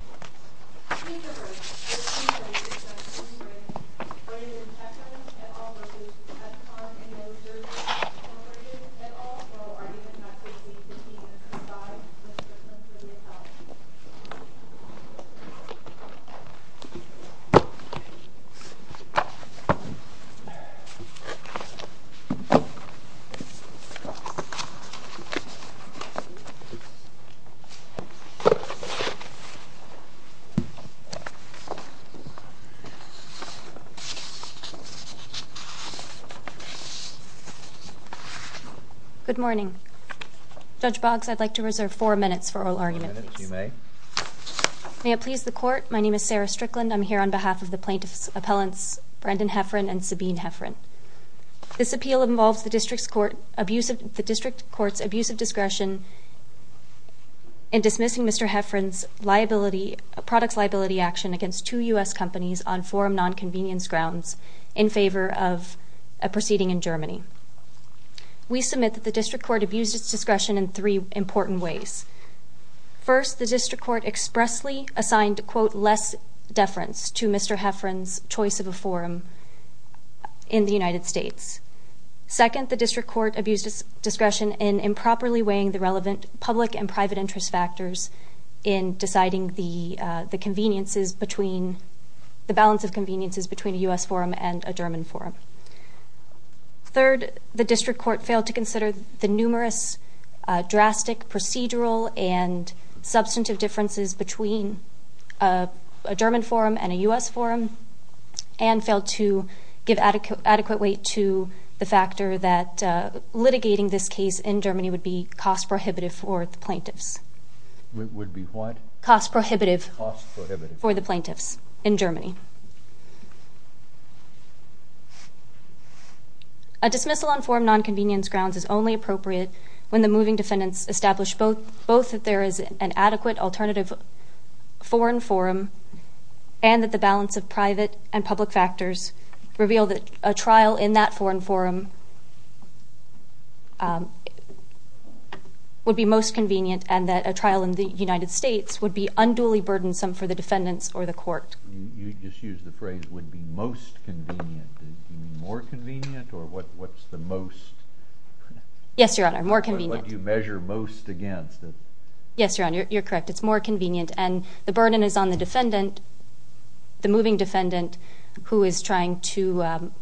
Hefferan v. Ethicon Endo Surgery Good morning. Judge Boggs, I'd like to reserve four minutes for oral arguments. Four minutes, you may. May it please the Court, my name is Sarah Strickland. I'm here on behalf of the plaintiffs' appellants Brendan Hefferan and Sabine Hefferan. This appeal involves the District Court's abuse of discretion in dismissing Mr. Hefferan's products liability action against two U.S. companies on forum non-convenience grounds in favor of a proceeding in Germany. We submit that the District Court abused its discretion in three important ways. First, the District Court expressly assigned, quote, less deference to Mr. Hefferan's choice of a forum in the United States. Second, the District Court abused its discretion in improperly weighing the relevant public and private interest factors in deciding the conveniences between, the balance of conveniences between a U.S. forum and a German forum. Third, the District Court failed to consider the numerous drastic procedural and substantive differences between a German forum and a U.S. forum and failed to give adequate weight to the factor that litigating this case in Germany would be cost prohibitive for the plaintiffs. Would be what? Cost prohibitive. Cost prohibitive. For the plaintiffs in Germany. A dismissal on forum non-convenience grounds is only appropriate when the moving defendants establish both that there is an adequate alternative foreign forum and that the balance of private and public factors reveal that a trial in that foreign forum would be most convenient and that a trial in the United States would be unduly burdensome for the defendants or the court. You just used the phrase would be most convenient. Do you mean more convenient or what's the most? Yes, Your Honor. More convenient. What do you measure most against? Yes, Your Honor. You're correct. It's more convenient and the burden is on the defendant, the moving defendant, who is trying to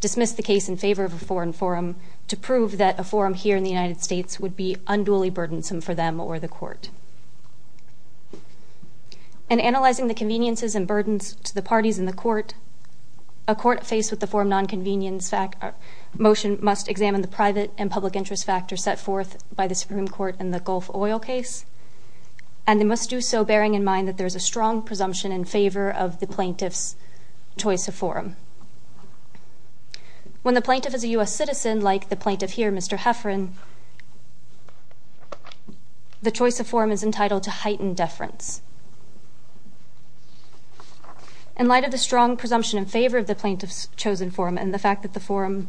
dismiss the case in favor of a foreign forum to prove that a forum here in the United States would be unduly burdensome for them or the court. In analyzing the conveniences and burdens to the parties in the court, a court faced with the forum non-convenience motion must examine the private and public interest factors set forth by the Supreme Court in the Gulf Oil case, and they must do so bearing in mind that there is a strong presumption in favor of the plaintiff's choice of forum. When the plaintiff is a U.S. citizen, like the plaintiff here, Mr. Heffron, the choice of forum is entitled to heightened deference. In light of the strong presumption in favor of the plaintiff's chosen forum and the fact that the forum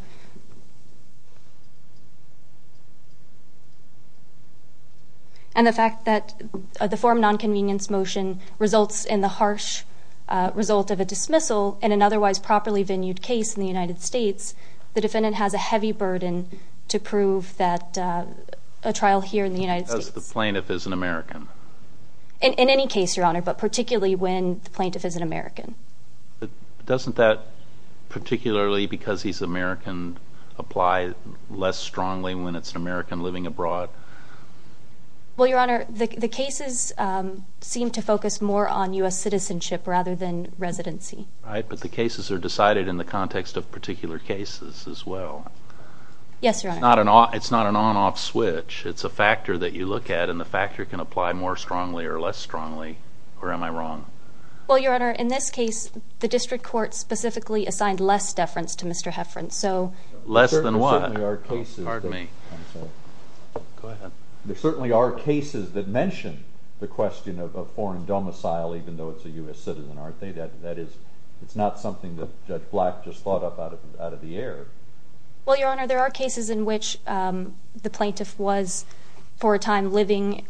non-convenience motion results in the harsh result of a dismissal in an otherwise properly venued case in the United States, the defendant has a heavy burden to prove that a trial here in the United States. Because the plaintiff is an American. In any case, Your Honor, but particularly when the plaintiff is an American. Doesn't that, particularly because he's American, apply less strongly when it's an American living abroad? Well, Your Honor, the cases seem to focus more on U.S. citizenship rather than residency. Right, but the cases are decided in the context of particular cases as well. Yes, Your Honor. It's not an on-off switch. It's a factor that you look at, and the factor can apply more strongly or less strongly. Or am I wrong? Well, Your Honor, in this case, the district court specifically assigned less deference to Mr. Heffron, so... Less than what? There certainly are cases... Pardon me. Go ahead. There certainly are cases that mention the question of a foreign domicile even though it's a U.S. citizen, aren't they? That is, it's not something that Judge Black just thought up out of the air. Well, Your Honor, there are cases in which the plaintiff was, for a time, living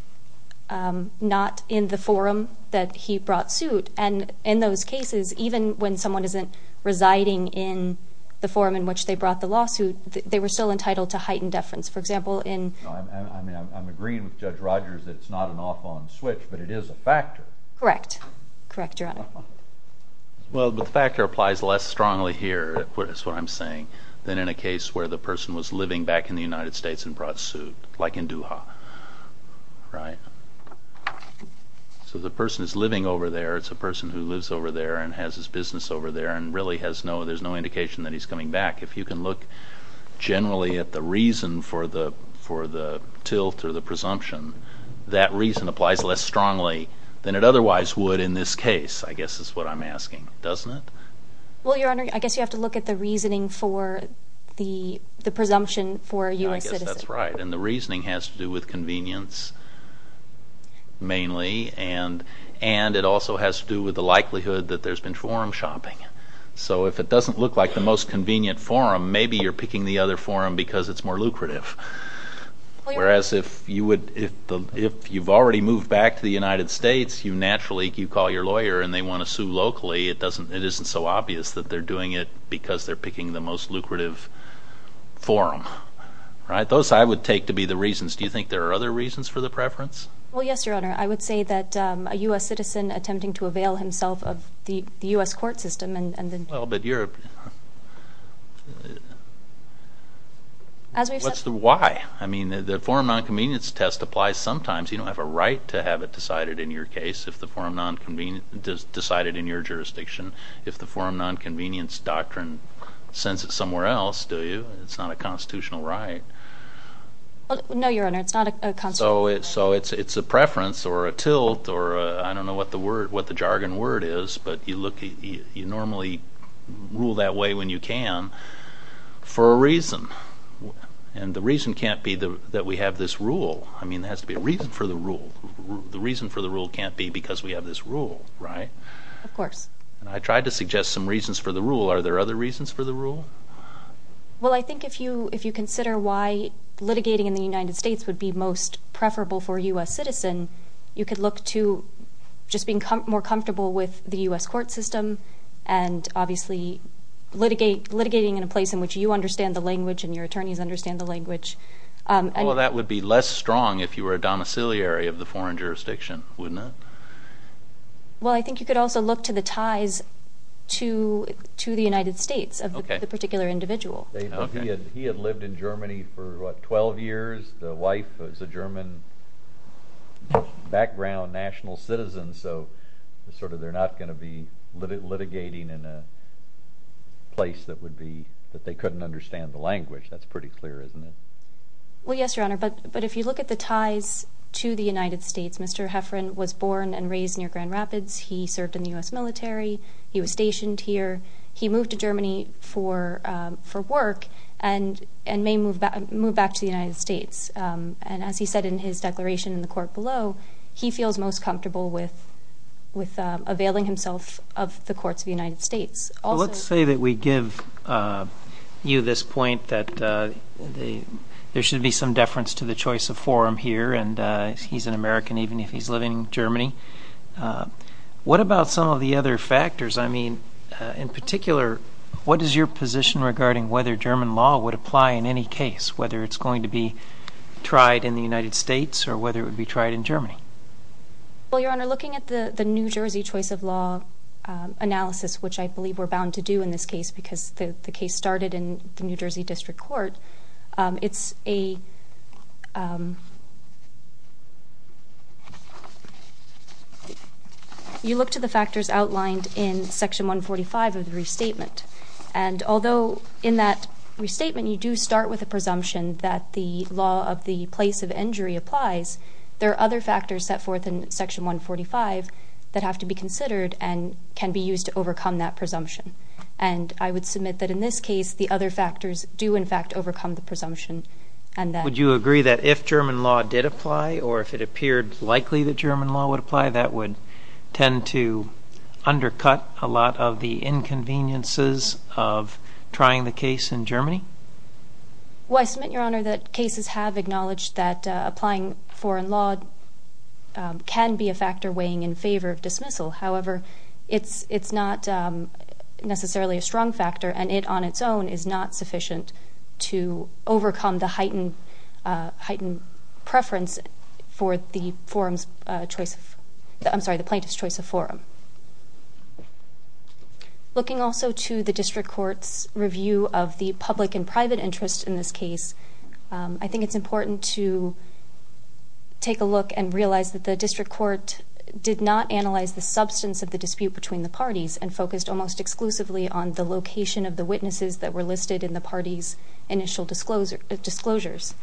not in the forum that he brought suit. And in those cases, even when someone isn't residing in the forum in which they brought the lawsuit, they were still entitled to heightened deference. For example, in... I mean, I'm agreeing with Judge Rogers that it's not an off-on switch, but it is a factor. Correct. Correct, Your Honor. Well, but the factor applies less strongly here, is what I'm saying, than in a case where the person was living back in the United States and brought suit, like in Doha, right? So the person is living over there, it's a person who lives over there and has his business over there and really has no, there's no indication that he's coming back. If you can look generally at the reason for the tilt or the presumption, that reason applies less strongly than it otherwise would in this case, I guess is what I'm asking, doesn't it? Well, Your Honor, I guess you have to look at the reasoning for the presumption for a U.S. citizen. I guess that's right, and the reasoning has to do with convenience, mainly, and it also has to do with the likelihood that there's been forum shopping. So if it doesn't look like the most convenient forum, maybe you're picking the other forum because it's more lucrative. Whereas if you would, if you've already moved back to the United States, you naturally, you call your lawyer and they want to sue locally, it doesn't, it isn't so obvious that they're doing it because they're picking the most lucrative forum, right? Those I would take to be the reasons. Do you think there are other reasons for the preference? Well, yes, Your Honor. I would say that a U.S. citizen attempting to avail himself of the U.S. court system and the... Well, but you're... As we've said... Why? I mean, the forum nonconvenience test applies sometimes. You don't have a right to have it decided in your case if the forum nonconvenience... decided in your jurisdiction. If the forum nonconvenience doctrine sends it somewhere else, do you? It's not a constitutional right. So, it's a preference or a tilt or a, I don't know what the word, what the jargon word is, but you look, you normally rule that way when you can for a reason. And the reason can't be that we have this rule. I mean, there has to be a reason for the rule. The reason for the rule can't be because we have this rule, right? Of course. I tried to suggest some reasons for the rule. Are there other reasons for the rule? Well, I think if you consider why litigating in the United States would be most preferable for a U.S. citizen, you could look to just being more comfortable with the U.S. court system and obviously litigating in a place in which you understand the language and your attorneys understand the language. Well, that would be less strong if you were a domiciliary of the foreign jurisdiction, wouldn't it? Well, I think you could also look to the ties to the United States of the particular individual. He had lived in Germany for, what, 12 years. The wife was a German background national citizen, so sort of they're not going to be litigating in a place that would be, that they couldn't understand the language. That's pretty clear, isn't it? Well, yes, Your Honor, but if you look at the ties to the United States, Mr. Heffron was born and raised near Grand Rapids. He served in the U.S. military. He was stationed here. He moved to Germany for work and may move back to the United States. And as he said in his declaration in the court below, he feels most comfortable with availing himself of the courts of the United States. Let's say that we give you this point that there should be some deference to the choice of forum here, and he's an American even if he's living in Germany. What about some of the other factors? I mean, in particular, what is your position regarding whether German law would apply in any case, whether it's going to be tried in the United States or whether it would be tried in Germany? Well, Your Honor, looking at the New Jersey choice of law analysis, which I believe we're bound to do in this case because the case started in the New Jersey District Court, it's a – you look to the factors outlined in Section 145 of the restatement. And although in that restatement you do start with a presumption that the law of the place of injury applies, there are other factors set forth in Section 145 that have to be considered and can be used to overcome that presumption. And I would submit that in this case, the other factors do, in fact, overcome the presumption. Would you agree that if German law did apply or if it appeared likely that German law would apply, that would tend to undercut a lot of the inconveniences of trying the case in Germany? Well, I submit, Your Honor, that cases have acknowledged that applying foreign law can be a factor weighing in favor of dismissal. However, it's not necessarily a strong factor, and it on its own is not sufficient to overcome the heightened preference for the forum's choice of – I'm sorry, the plaintiff's choice of forum. Looking also to the District Court's review of the public and private interests in this case, I think it's important to take a look and realize that the District Court did not analyze the substance of the dispute between the parties and focused almost exclusively on the location of the witnesses that were listed in the parties' initial disclosures.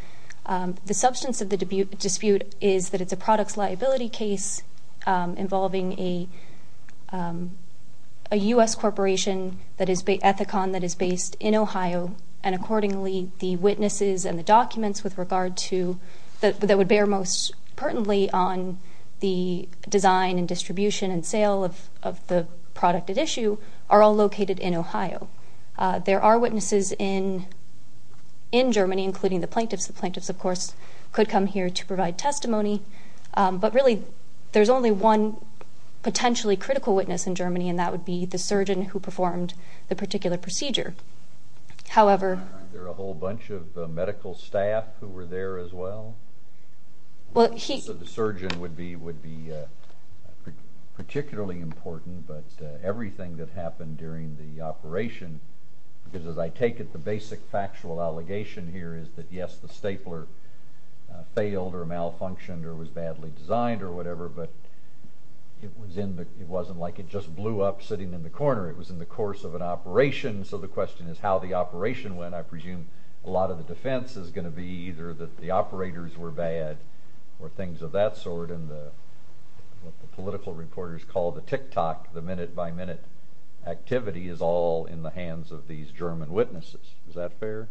The substance of the dispute is that it's a products liability case involving a U.S. corporation, that is, Ethicon, that is based in Ohio. And accordingly, the witnesses and the documents with regard to – that would bear most pertinently on the design and distribution and sale of the product at issue are all located in Ohio. There are witnesses in Germany, including the plaintiffs. The plaintiffs, of course, could come here to provide testimony. But really, there's only one potentially critical witness in Germany, and that would be the surgeon who performed the particular procedure. However – Aren't there a whole bunch of medical staff who were there as well? The surgeon would be particularly important, but everything that happened during the operation – because as I take it, the basic factual allegation here is that, yes, the stapler failed or malfunctioned or was badly designed or whatever, but it wasn't like it just blew up sitting in the corner. It was in the course of an operation, so the question is how the operation went. I presume a lot of the defense is going to be either that the operators were bad or things of that sort, and what the political reporters call the tick-tock, the minute-by-minute activity, is all in the hands of these German witnesses. Is that fair?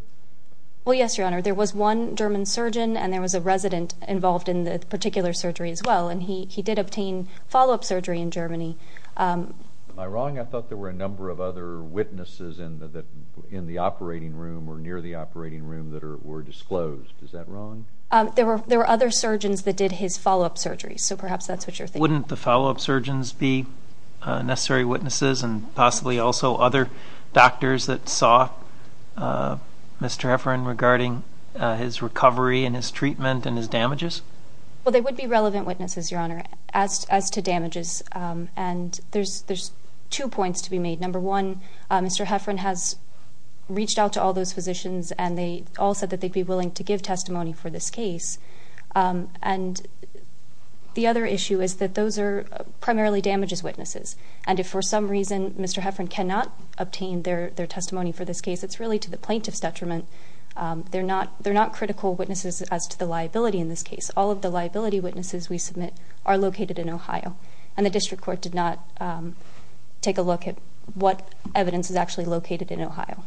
Well, yes, Your Honor. There was one German surgeon, and there was a resident involved in the particular surgery as well, and he did obtain follow-up surgery in Germany. Am I wrong? I thought there were a number of other witnesses in the operating room or near the operating room that were disclosed. Is that wrong? There were other surgeons that did his follow-up surgery, so perhaps that's what you're thinking. Wouldn't the follow-up surgeons be necessary witnesses and possibly also other doctors that saw Mr. Hefferon regarding his recovery and his treatment and his damages? Well, they would be relevant witnesses, Your Honor, as to damages, and there's two points to be made. Number one, Mr. Hefferon has reached out to all those physicians, and they all said that they'd be willing to give testimony for this case. And the other issue is that those are primarily damages witnesses, and if for some reason Mr. Hefferon cannot obtain their testimony for this case, it's really to the plaintiff's detriment. They're not critical witnesses as to the liability in this case. All of the liability witnesses we submit are located in Ohio, and the district court did not take a look at what evidence is actually located in Ohio.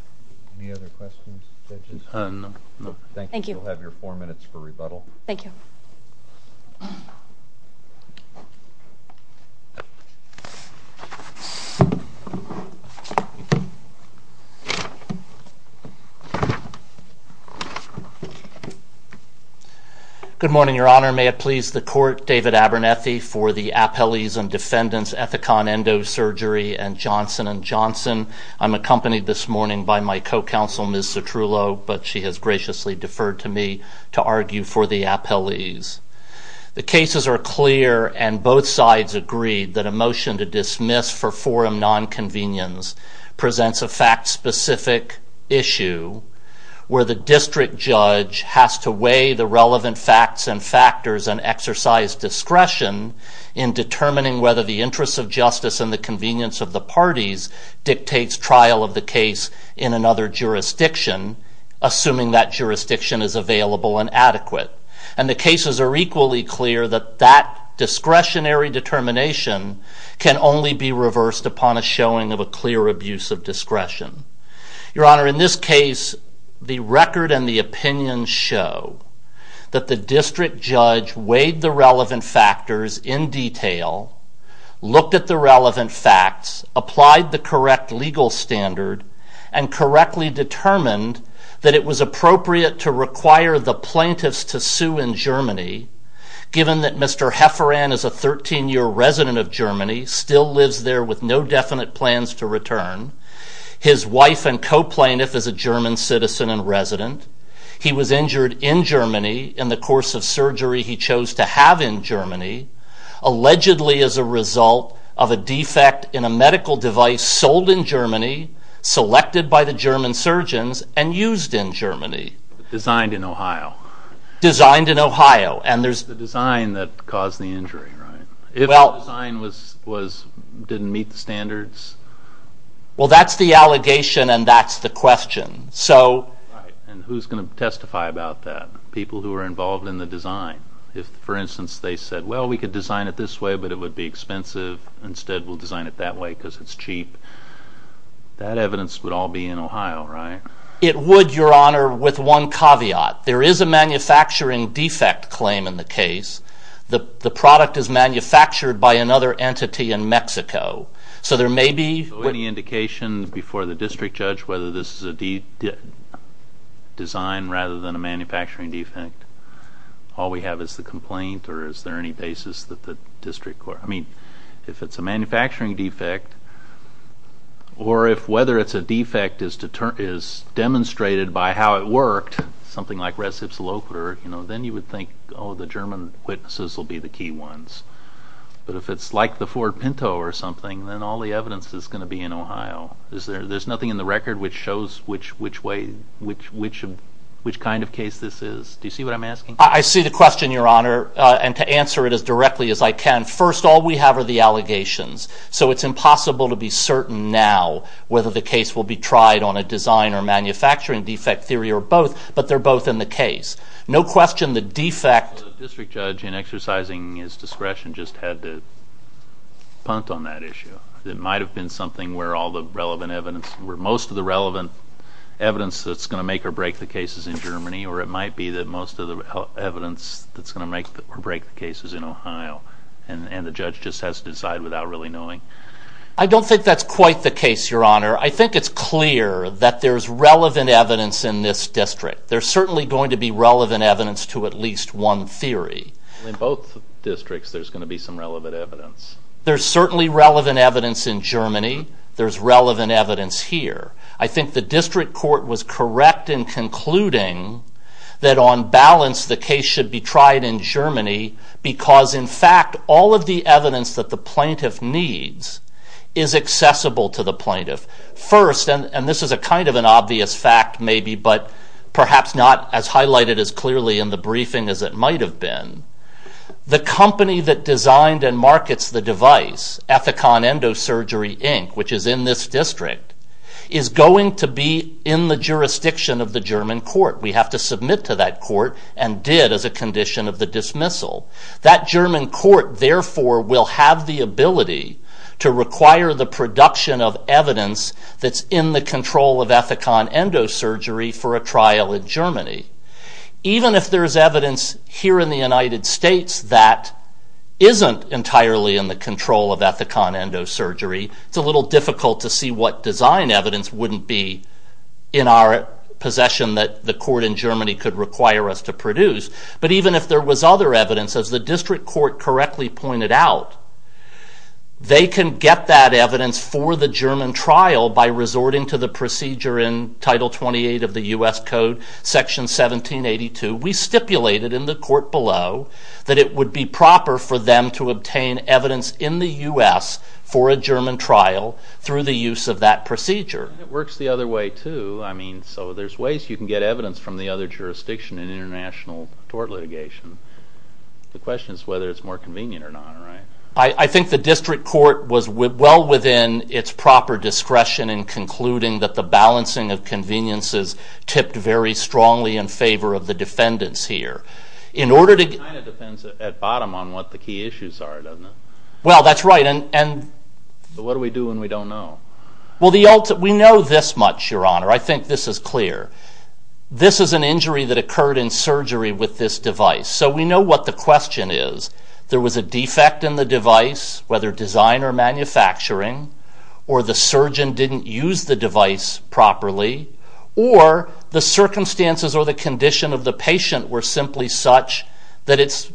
Any other questions, judges? No. Thank you. You'll have your four minutes for rebuttal. Thank you. Good morning, Your Honor. May it please the Court, David Abernethy for the Appellees and Defendants Ethicon Endosurgery and Johnson & Johnson. I'm accompanied this morning by my co-counsel, Ms. Citrullo, but she has graciously deferred to me to argue for the appellees. The cases are clear, and both sides agreed that a motion to dismiss for forum nonconvenience presents a fact-specific issue where the district judge has to weigh the relevant facts and factors and exercise discretion in determining whether the interests of justice and the convenience of the parties dictates trial of the case in another jurisdiction, assuming that jurisdiction is available and adequate. And the cases are equally clear that that discretionary determination can only be reversed upon a showing of a clear abuse of discretion. Your Honor, in this case, the record and the opinions show that the district judge weighed the relevant factors in detail, looked at the relevant facts, applied the correct legal standard, and correctly determined that it was appropriate to require the plaintiffs to sue in Germany, given that Mr. Hefferan is a 13-year resident of Germany, still lives there with no definite plans to return. His wife and co-plaintiff is a German citizen and resident. He was injured in Germany in the course of surgery he chose to have in Germany, allegedly as a result of a defect in a medical device sold in Germany, selected by the German surgeons, and used in Germany. Designed in Ohio. Designed in Ohio. The design that caused the injury, right? If the design didn't meet the standards? Well, that's the allegation and that's the question. And who's going to testify about that? People who are involved in the design. If, for instance, they said, well, we could design it this way, but it would be expensive. Instead, we'll design it that way because it's cheap. That evidence would all be in Ohio, right? It would, Your Honor, with one caveat. There is a manufacturing defect claim in the case. The product is manufactured by another entity in Mexico. So there may be... Any indication before the district judge whether this is a design rather than a manufacturing defect? All we have is the complaint, or is there any basis that the district court... I mean, if it's a manufacturing defect, or if whether it's a defect is demonstrated by how it worked, something like res ipsa loquitur, then you would think, oh, the German witnesses will be the key ones. But if it's like the Ford Pinto or something, then all the evidence is going to be in Ohio. There's nothing in the record which shows which kind of case this is. Do you see what I'm asking? I see the question, Your Honor. And to answer it as directly as I can, first, all we have are the allegations. So it's impossible to be certain now whether the case will be tried on a design or manufacturing defect theory or both. But they're both in the case. No question the defect... The district judge, in exercising his discretion, just had to punt on that issue. It might have been something where all the relevant evidence, where most of the relevant evidence that's going to make or break the case is in Germany, or it might be that most of the evidence that's going to make or break the case is in Ohio, and the judge just has to decide without really knowing. I don't think that's quite the case, Your Honor. I think it's clear that there's relevant evidence in this district. There's certainly going to be relevant evidence to at least one theory. In both districts, there's going to be some relevant evidence. There's certainly relevant evidence in Germany. There's relevant evidence here. I think the district court was correct in concluding that, on balance, the case should be tried in Germany because, in fact, all of the evidence that the plaintiff needs is accessible to the plaintiff. First, and this is a kind of an obvious fact, maybe, but perhaps not as highlighted as clearly in the briefing as it might have been, the company that designed and markets the device, Ethicon Endosurgery, Inc., which is in this district, is going to be in the jurisdiction of the German court. We have to submit to that court and did as a condition of the dismissal. That German court, therefore, will have the ability to require the production of evidence that's in the control of Ethicon Endosurgery for a trial in Germany. Even if there's evidence here in the United States that isn't entirely in the control of Ethicon Endosurgery, it's a little difficult to see what design evidence wouldn't be in our possession that the court in Germany could require us to produce. But even if there was other evidence, as the district court correctly pointed out, they can get that evidence for the German trial by resorting to the procedure in Title 28 of the U.S. Code, Section 1782. We stipulated in the court below that it would be proper for them to obtain evidence in the U.S. for a German trial through the use of that procedure. It works the other way, too. I mean, so there's ways you can get evidence from the other jurisdiction in international tort litigation. The question is whether it's more convenient or not, right? I think the district court was well within its proper discretion in concluding that the balancing of conveniences tipped very strongly in favor of the defendants here. It kind of depends at bottom on what the key issues are, doesn't it? Well, that's right. But what do we do when we don't know? We know this much, Your Honor. I think this is clear. This is an injury that occurred in surgery with this device. So we know what the question is. There was a defect in the device, whether design or manufacturing, or the surgeon didn't use the device properly, or the circumstances or the condition of the patient were simply such that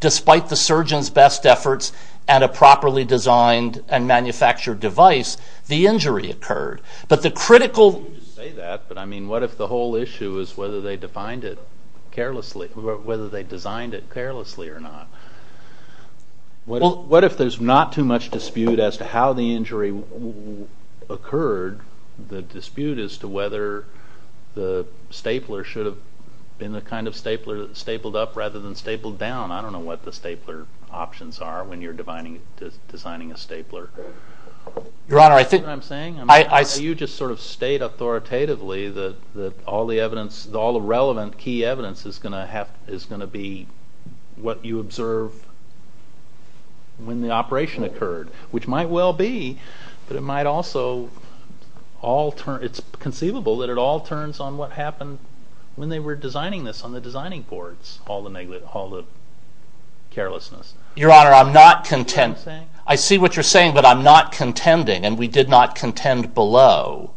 despite the surgeon's best efforts and a properly designed and manufactured device, the injury occurred. But the critical... You can just say that, but I mean, what if the whole issue is whether they designed it carelessly or not? What if there's not too much dispute as to how the injury occurred, the dispute as to whether the stapler should have been the kind of stapler that stapled up rather than stapled down? I don't know what the stapler options are when you're designing a stapler. Your Honor, I think... You see what I'm saying? You just sort of state authoritatively that all the relevant key evidence is going to be what you observe when the operation occurred, which might well be, but it might also all turn. It's conceivable that it all turns on what happened when they were designing this on the designing boards, all the negligence, all the carelessness. Your Honor, I'm not contending... You see what I'm saying? I see what you're saying, but I'm not contending, and we did not contend below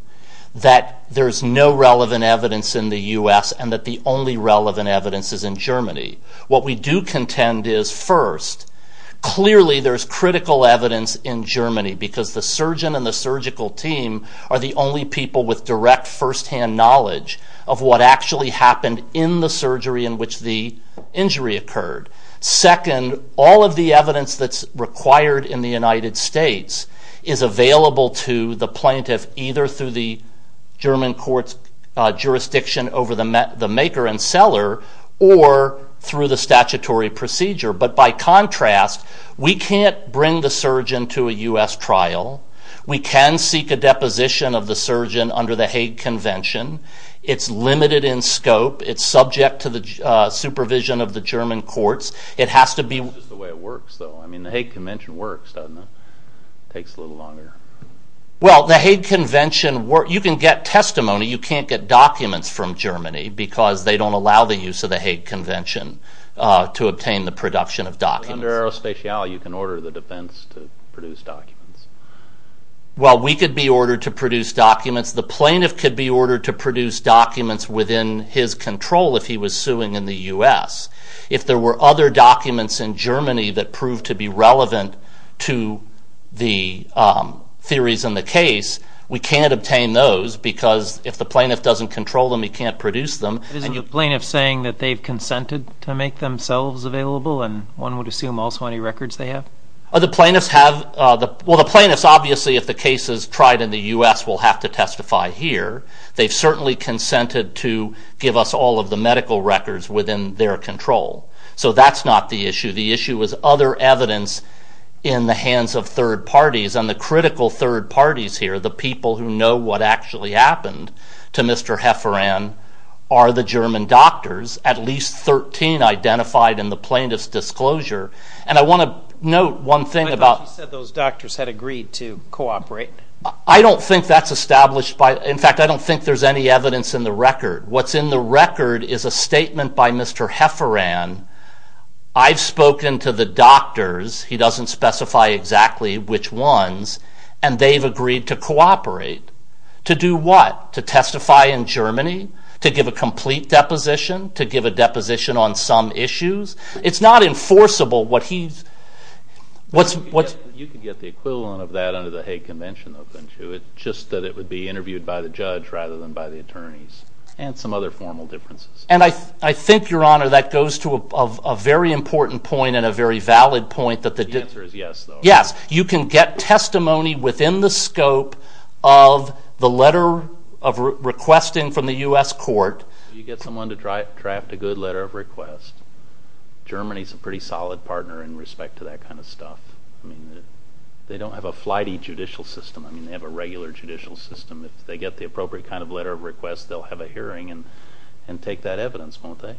that there's no relevant evidence in the U.S. and that the only relevant evidence is in Germany. What we do contend is, first, clearly there's critical evidence in Germany because the surgeon and the surgical team are the only people with direct firsthand knowledge of what actually happened in the surgery in which the injury occurred. Second, all of the evidence that's required in the United States is available to the plaintiff either through the German court's jurisdiction over the maker and seller or through the statutory procedure. But by contrast, we can't bring the surgeon to a U.S. trial. We can seek a deposition of the surgeon under the Hague Convention. It's limited in scope. It's subject to the supervision of the German courts. It has to be... It's just the way it works, though. I mean, the Hague Convention works, doesn't it? It takes a little longer. Well, the Hague Convention works. You can get testimony. You can't get documents from Germany because they don't allow the use of the Hague Convention to obtain the production of documents. Under aerospace, you can order the defense to produce documents. Well, we could be ordered to produce documents. The plaintiff could be ordered to produce documents within his control if he was suing in the U.S. If there were other documents in Germany that proved to be relevant to the theories in the case, we can't obtain those because if the plaintiff doesn't control them, he can't produce them. Isn't the plaintiff saying that they've consented to make themselves available and one would assume also any records they have? The plaintiffs have... Well, the plaintiffs, obviously, if the case is tried in the U.S., will have to testify here. They've certainly consented to give us all of the medical records within their control. So that's not the issue. The issue is other evidence in the hands of third parties. And the critical third parties here, the people who know what actually happened to Mr. Hefferon, are the German doctors, at least 13 identified in the plaintiff's disclosure. And I want to note one thing about... I thought you said those doctors had agreed to cooperate. I don't think that's established by... In fact, I don't think there's any evidence in the record. What's in the record is a statement by Mr. Hefferon. I've spoken to the doctors. He doesn't specify exactly which ones. And they've agreed to cooperate. To do what? To testify in Germany? To give a complete deposition? To give a deposition on some issues? It's not enforceable what he's... You could get the equivalent of that under the Hague Convention, though, couldn't you? It's just that it would be interviewed by the judge rather than by the attorneys and some other formal differences. And I think, Your Honor, that goes to a very important point and a very valid point that the... The answer is yes, though. Yes. You can get testimony within the scope of the letter of requesting from the U.S. court. You get someone to draft a good letter of request, Germany's a pretty solid partner in respect to that kind of stuff. I mean, they don't have a flighty judicial system. I mean, they have a regular judicial system. If they get the appropriate kind of letter of request, they'll have a hearing and take that evidence, won't they?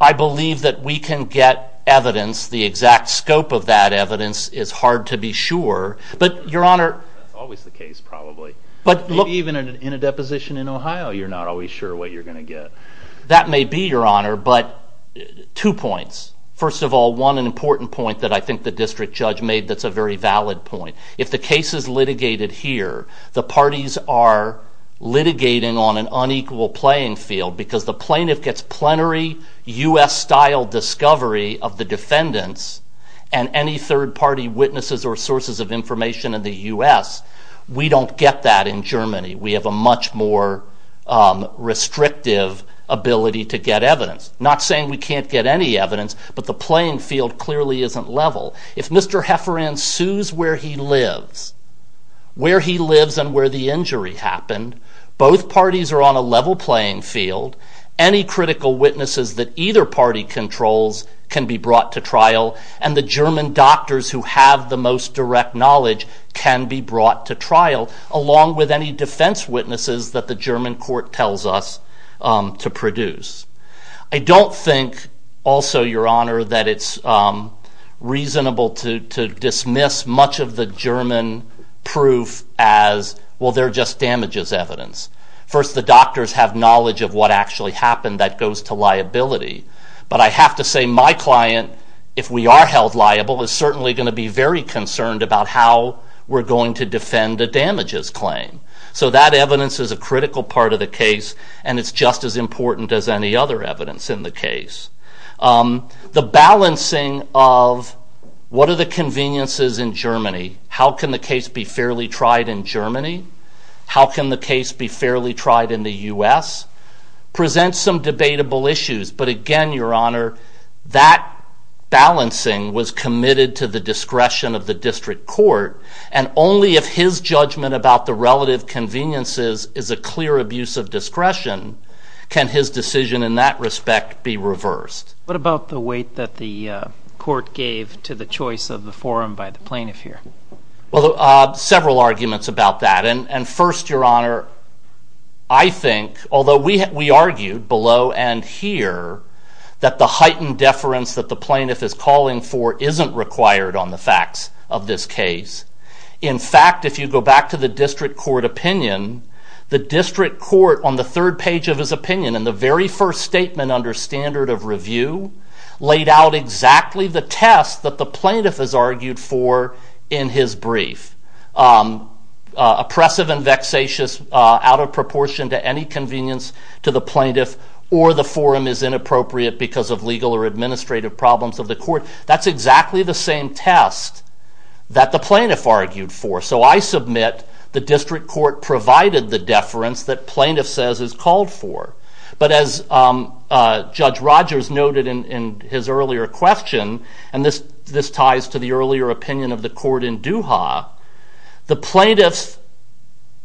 I believe that we can get evidence. The exact scope of that evidence is hard to be sure. But, Your Honor... That's always the case, probably. Even in a deposition in Ohio, you're not always sure what you're going to get. That may be, Your Honor, but two points. First of all, one important point that I think the district judge made that's a very valid point. If the case is litigated here, the parties are litigating on an unequal playing field because the plaintiff gets plenary U.S.-style discovery of the defendants and any third-party witnesses or sources of information in the U.S., we don't get that in Germany. We have a much more restrictive ability to get evidence. Not saying we can't get any evidence, but the playing field clearly isn't level. If Mr. Hefferon sues where he lives, where he lives and where the injury happened, both parties are on a level playing field. Any critical witnesses that either party controls can be brought to trial and the German doctors who have the most direct knowledge can be brought to trial, along with any defense witnesses that the German court tells us to produce. I don't think also, Your Honor, that it's reasonable to dismiss much of the German proof as, well, they're just damages evidence. First, the doctors have knowledge of what actually happened. That goes to liability. But I have to say my client, if we are held liable, is certainly going to be very concerned about how we're going to defend a damages claim. So that evidence is a critical part of the case and it's just as important as any other evidence in the case. The balancing of what are the conveniences in Germany, how can the case be fairly tried in Germany, how can the case be fairly tried in the U.S., presents some debatable issues. But again, Your Honor, that balancing was committed to the discretion of the district court and only if his judgment about the relative conveniences is a clear abuse of discretion can his decision in that respect be reversed. What about the weight that the court gave to the choice of the forum by the plaintiff here? Well, several arguments about that. And first, Your Honor, I think, although we argued below and here that the heightened deference that the plaintiff is calling for isn't required on the facts of this case. In fact, if you go back to the district court opinion, the district court on the third page of his opinion in the very first statement under standard of review laid out exactly the test that the plaintiff has argued for in his brief. Oppressive and vexatious out of proportion to any convenience to the plaintiff or the forum is inappropriate because of legal or administrative problems of the court. That's exactly the same test that the plaintiff argued for. So I submit the district court provided the deference that plaintiff says is called for. But as Judge Rogers noted in his earlier question, and this ties to the earlier opinion of the court in Doha, the plaintiff's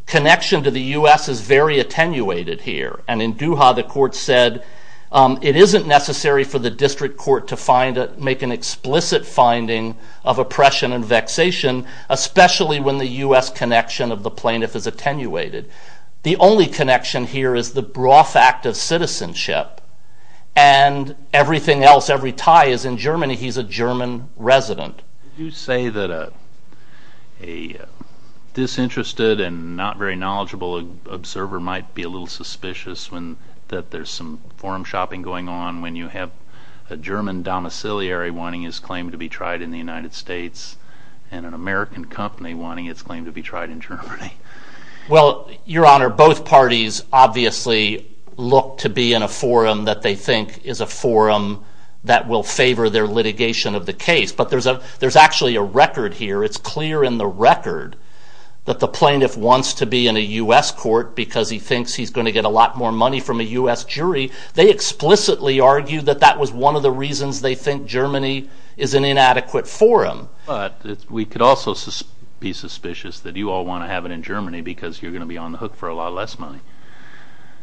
connection to the U.S. is very attenuated here. And in Doha, the court said it isn't necessary for the district court to make an explicit finding of oppression and vexation, especially when the U.S. connection of the plaintiff is attenuated. The only connection here is the broth act of citizenship and everything else, every tie is in Germany. He's a German resident. You say that a disinterested and not very knowledgeable observer might be a little suspicious that there's some forum shopping going on when you have a German domiciliary wanting his claim to be tried in the United States and an American company wanting its claim to be tried in Germany. Well, Your Honor, both parties obviously look to be in a forum that they think is a forum that will favor their litigation of the case. But there's actually a record here. It's clear in the record that the plaintiff wants to be in a U.S. court because he thinks he's going to get a lot more money from a U.S. jury. They explicitly argue that that was one of the reasons they think Germany is an inadequate forum. But we could also be suspicious that you all want to have it in Germany because you're going to be on the hook for a lot less money.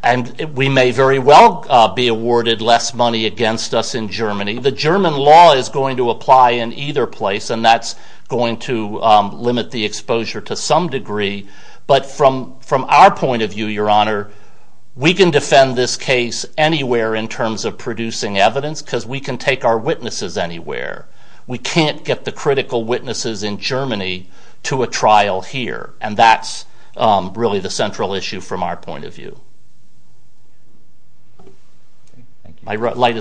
And we may very well be awarded less money against us in Germany. The German law is going to apply in either place and that's going to limit the exposure to some degree. But from our point of view, Your Honor, we can defend this case anywhere in terms of producing evidence because we can take our witnesses anywhere. We can't get the critical witnesses in Germany to a trial here. And that's really the central issue from our point of view. I'd like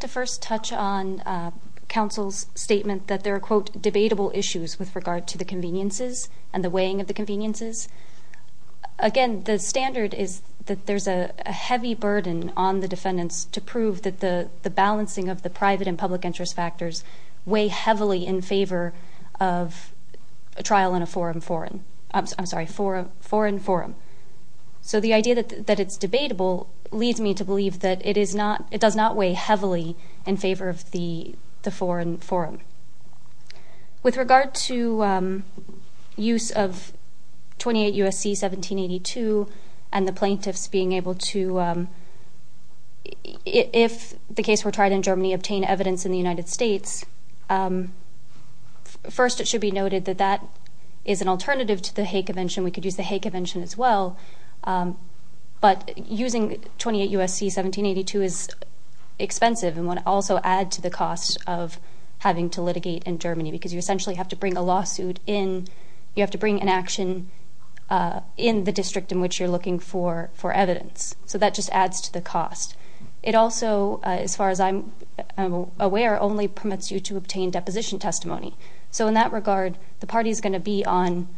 to first touch on counsel's statement that there are, quote, debatable issues with regard to the conveniences and the weighing of the conveniences. Again, the standard is that there's a heavy burden on the defendants to prove that the balancing of the private and public interest factors weigh heavily in favor of a trial in a foreign forum. I'm sorry, foreign forum. So the idea that it's debatable leads me to believe that it does not weigh heavily in favor of the foreign forum. With regard to use of 28 U.S.C. 1782 and the plaintiffs being able to, if the case were tried in Germany, obtain evidence in the United States, first it should be noted that that is an alternative to the Hay Convention. We could use the Hay Convention as well. But using 28 U.S.C. 1782 is expensive and would also add to the cost of having to litigate in Germany because you essentially have to bring a lawsuit in, you have to bring an action in the district in which you're looking for evidence. So that just adds to the cost. It also, as far as I'm aware, only permits you to obtain deposition testimony. So in that regard, the party is going to be on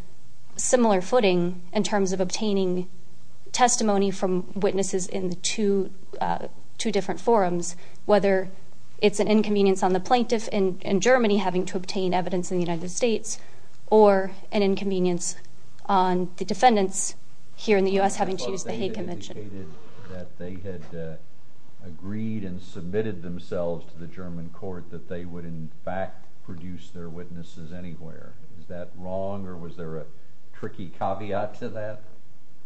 similar footing in terms of obtaining testimony from witnesses in the two different forums, whether it's an inconvenience on the plaintiff in Germany having to obtain evidence in the United States or an inconvenience on the defendants here in the U.S. having to use the Hay Convention. They had agreed and submitted themselves to the German court that they would in fact produce their witnesses anywhere. Is that wrong, or was there a tricky caveat to that?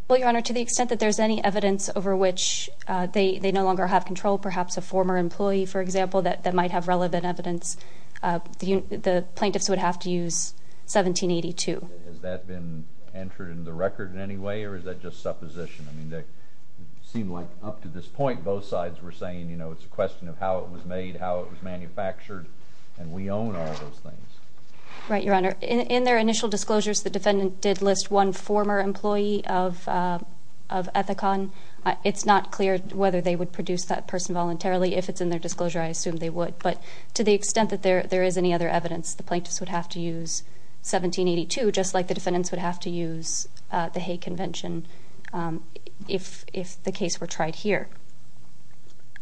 Well, Your Honor, to the extent that there's any evidence over which they no longer have control, perhaps a former employee, for example, that might have relevant evidence, the plaintiffs would have to use 1782. Has that been entered in the record in any way, or is that just supposition? I mean, it seemed like up to this point both sides were saying, you know, it's a question of how it was made, how it was manufactured, and we own all those things. Right, Your Honor. In their initial disclosures, the defendant did list one former employee of Ethicon. It's not clear whether they would produce that person voluntarily. If it's in their disclosure, I assume they would. But to the extent that there is any other evidence, the plaintiffs would have to use 1782, just like the defendants would have to use the Hay Convention if the case were tried here.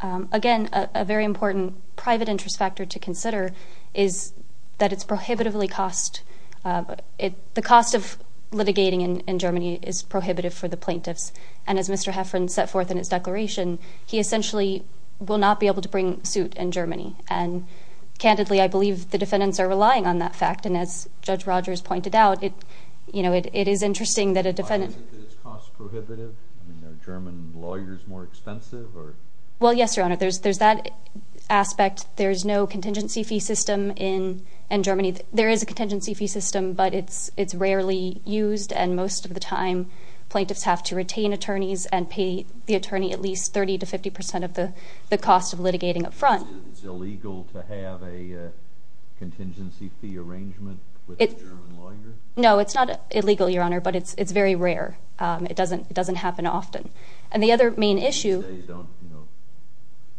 Again, a very important private interest factor to consider is that it's prohibitively cost. The cost of litigating in Germany is prohibitive for the plaintiffs. And as Mr. Heffern set forth in his declaration, he essentially will not be able to bring suit in Germany. And candidly, I believe the defendants are relying on that fact. And as Judge Rogers pointed out, it is interesting that a defendant— Why is it that it's cost prohibitive? Well, yes, Your Honor. There's that aspect. There is no contingency fee system in Germany. There is a contingency fee system, but it's rarely used. And most of the time, plaintiffs have to retain attorneys and pay the attorney at least 30% to 50% of the cost of litigating up front. Is it illegal to have a contingency fee arrangement with a German lawyer? No, it's not illegal, Your Honor, but it's very rare. It doesn't happen often. And the other main issue—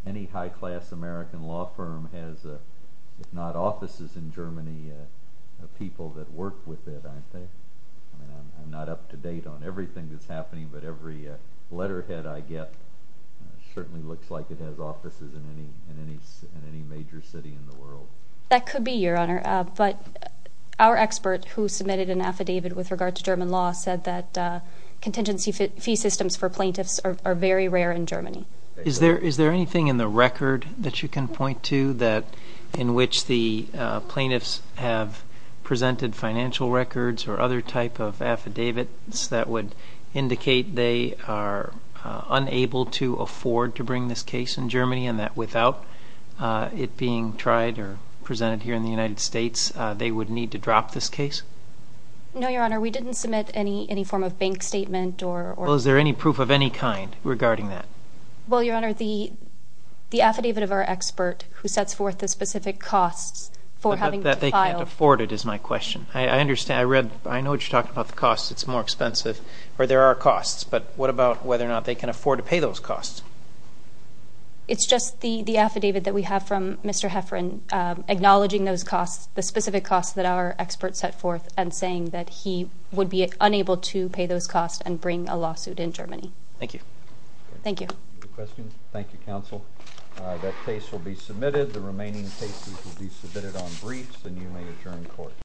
Any high-class American law firm has, if not offices in Germany, people that work with it, aren't they? I'm not up to date on everything that's happening, but every letterhead I get certainly looks like it has offices in any major city in the world. That could be, Your Honor. But our expert who submitted an affidavit with regard to German law said that contingency fee systems for plaintiffs are very rare in Germany. Is there anything in the record that you can point to in which the plaintiffs have presented financial records or other type of affidavits that would indicate they are unable to afford to bring this case in Germany and that without it being tried or presented here in the United States, they would need to drop this case? No, Your Honor. We didn't submit any form of bank statement or— Well, is there any proof of any kind regarding that? Well, Your Honor, the affidavit of our expert who sets forth the specific costs for having to file— That they can't afford it is my question. I know what you're talking about, the costs. It's more expensive, or there are costs. But what about whether or not they can afford to pay those costs? It's just the affidavit that we have from Mr. Hefferon acknowledging those costs, the specific costs that our expert set forth, and saying that he would be unable to pay those costs and bring a lawsuit in Germany. Thank you. Thank you. Thank you, Counsel. That case will be submitted. The remaining cases will be submitted on briefs, and you may adjourn court.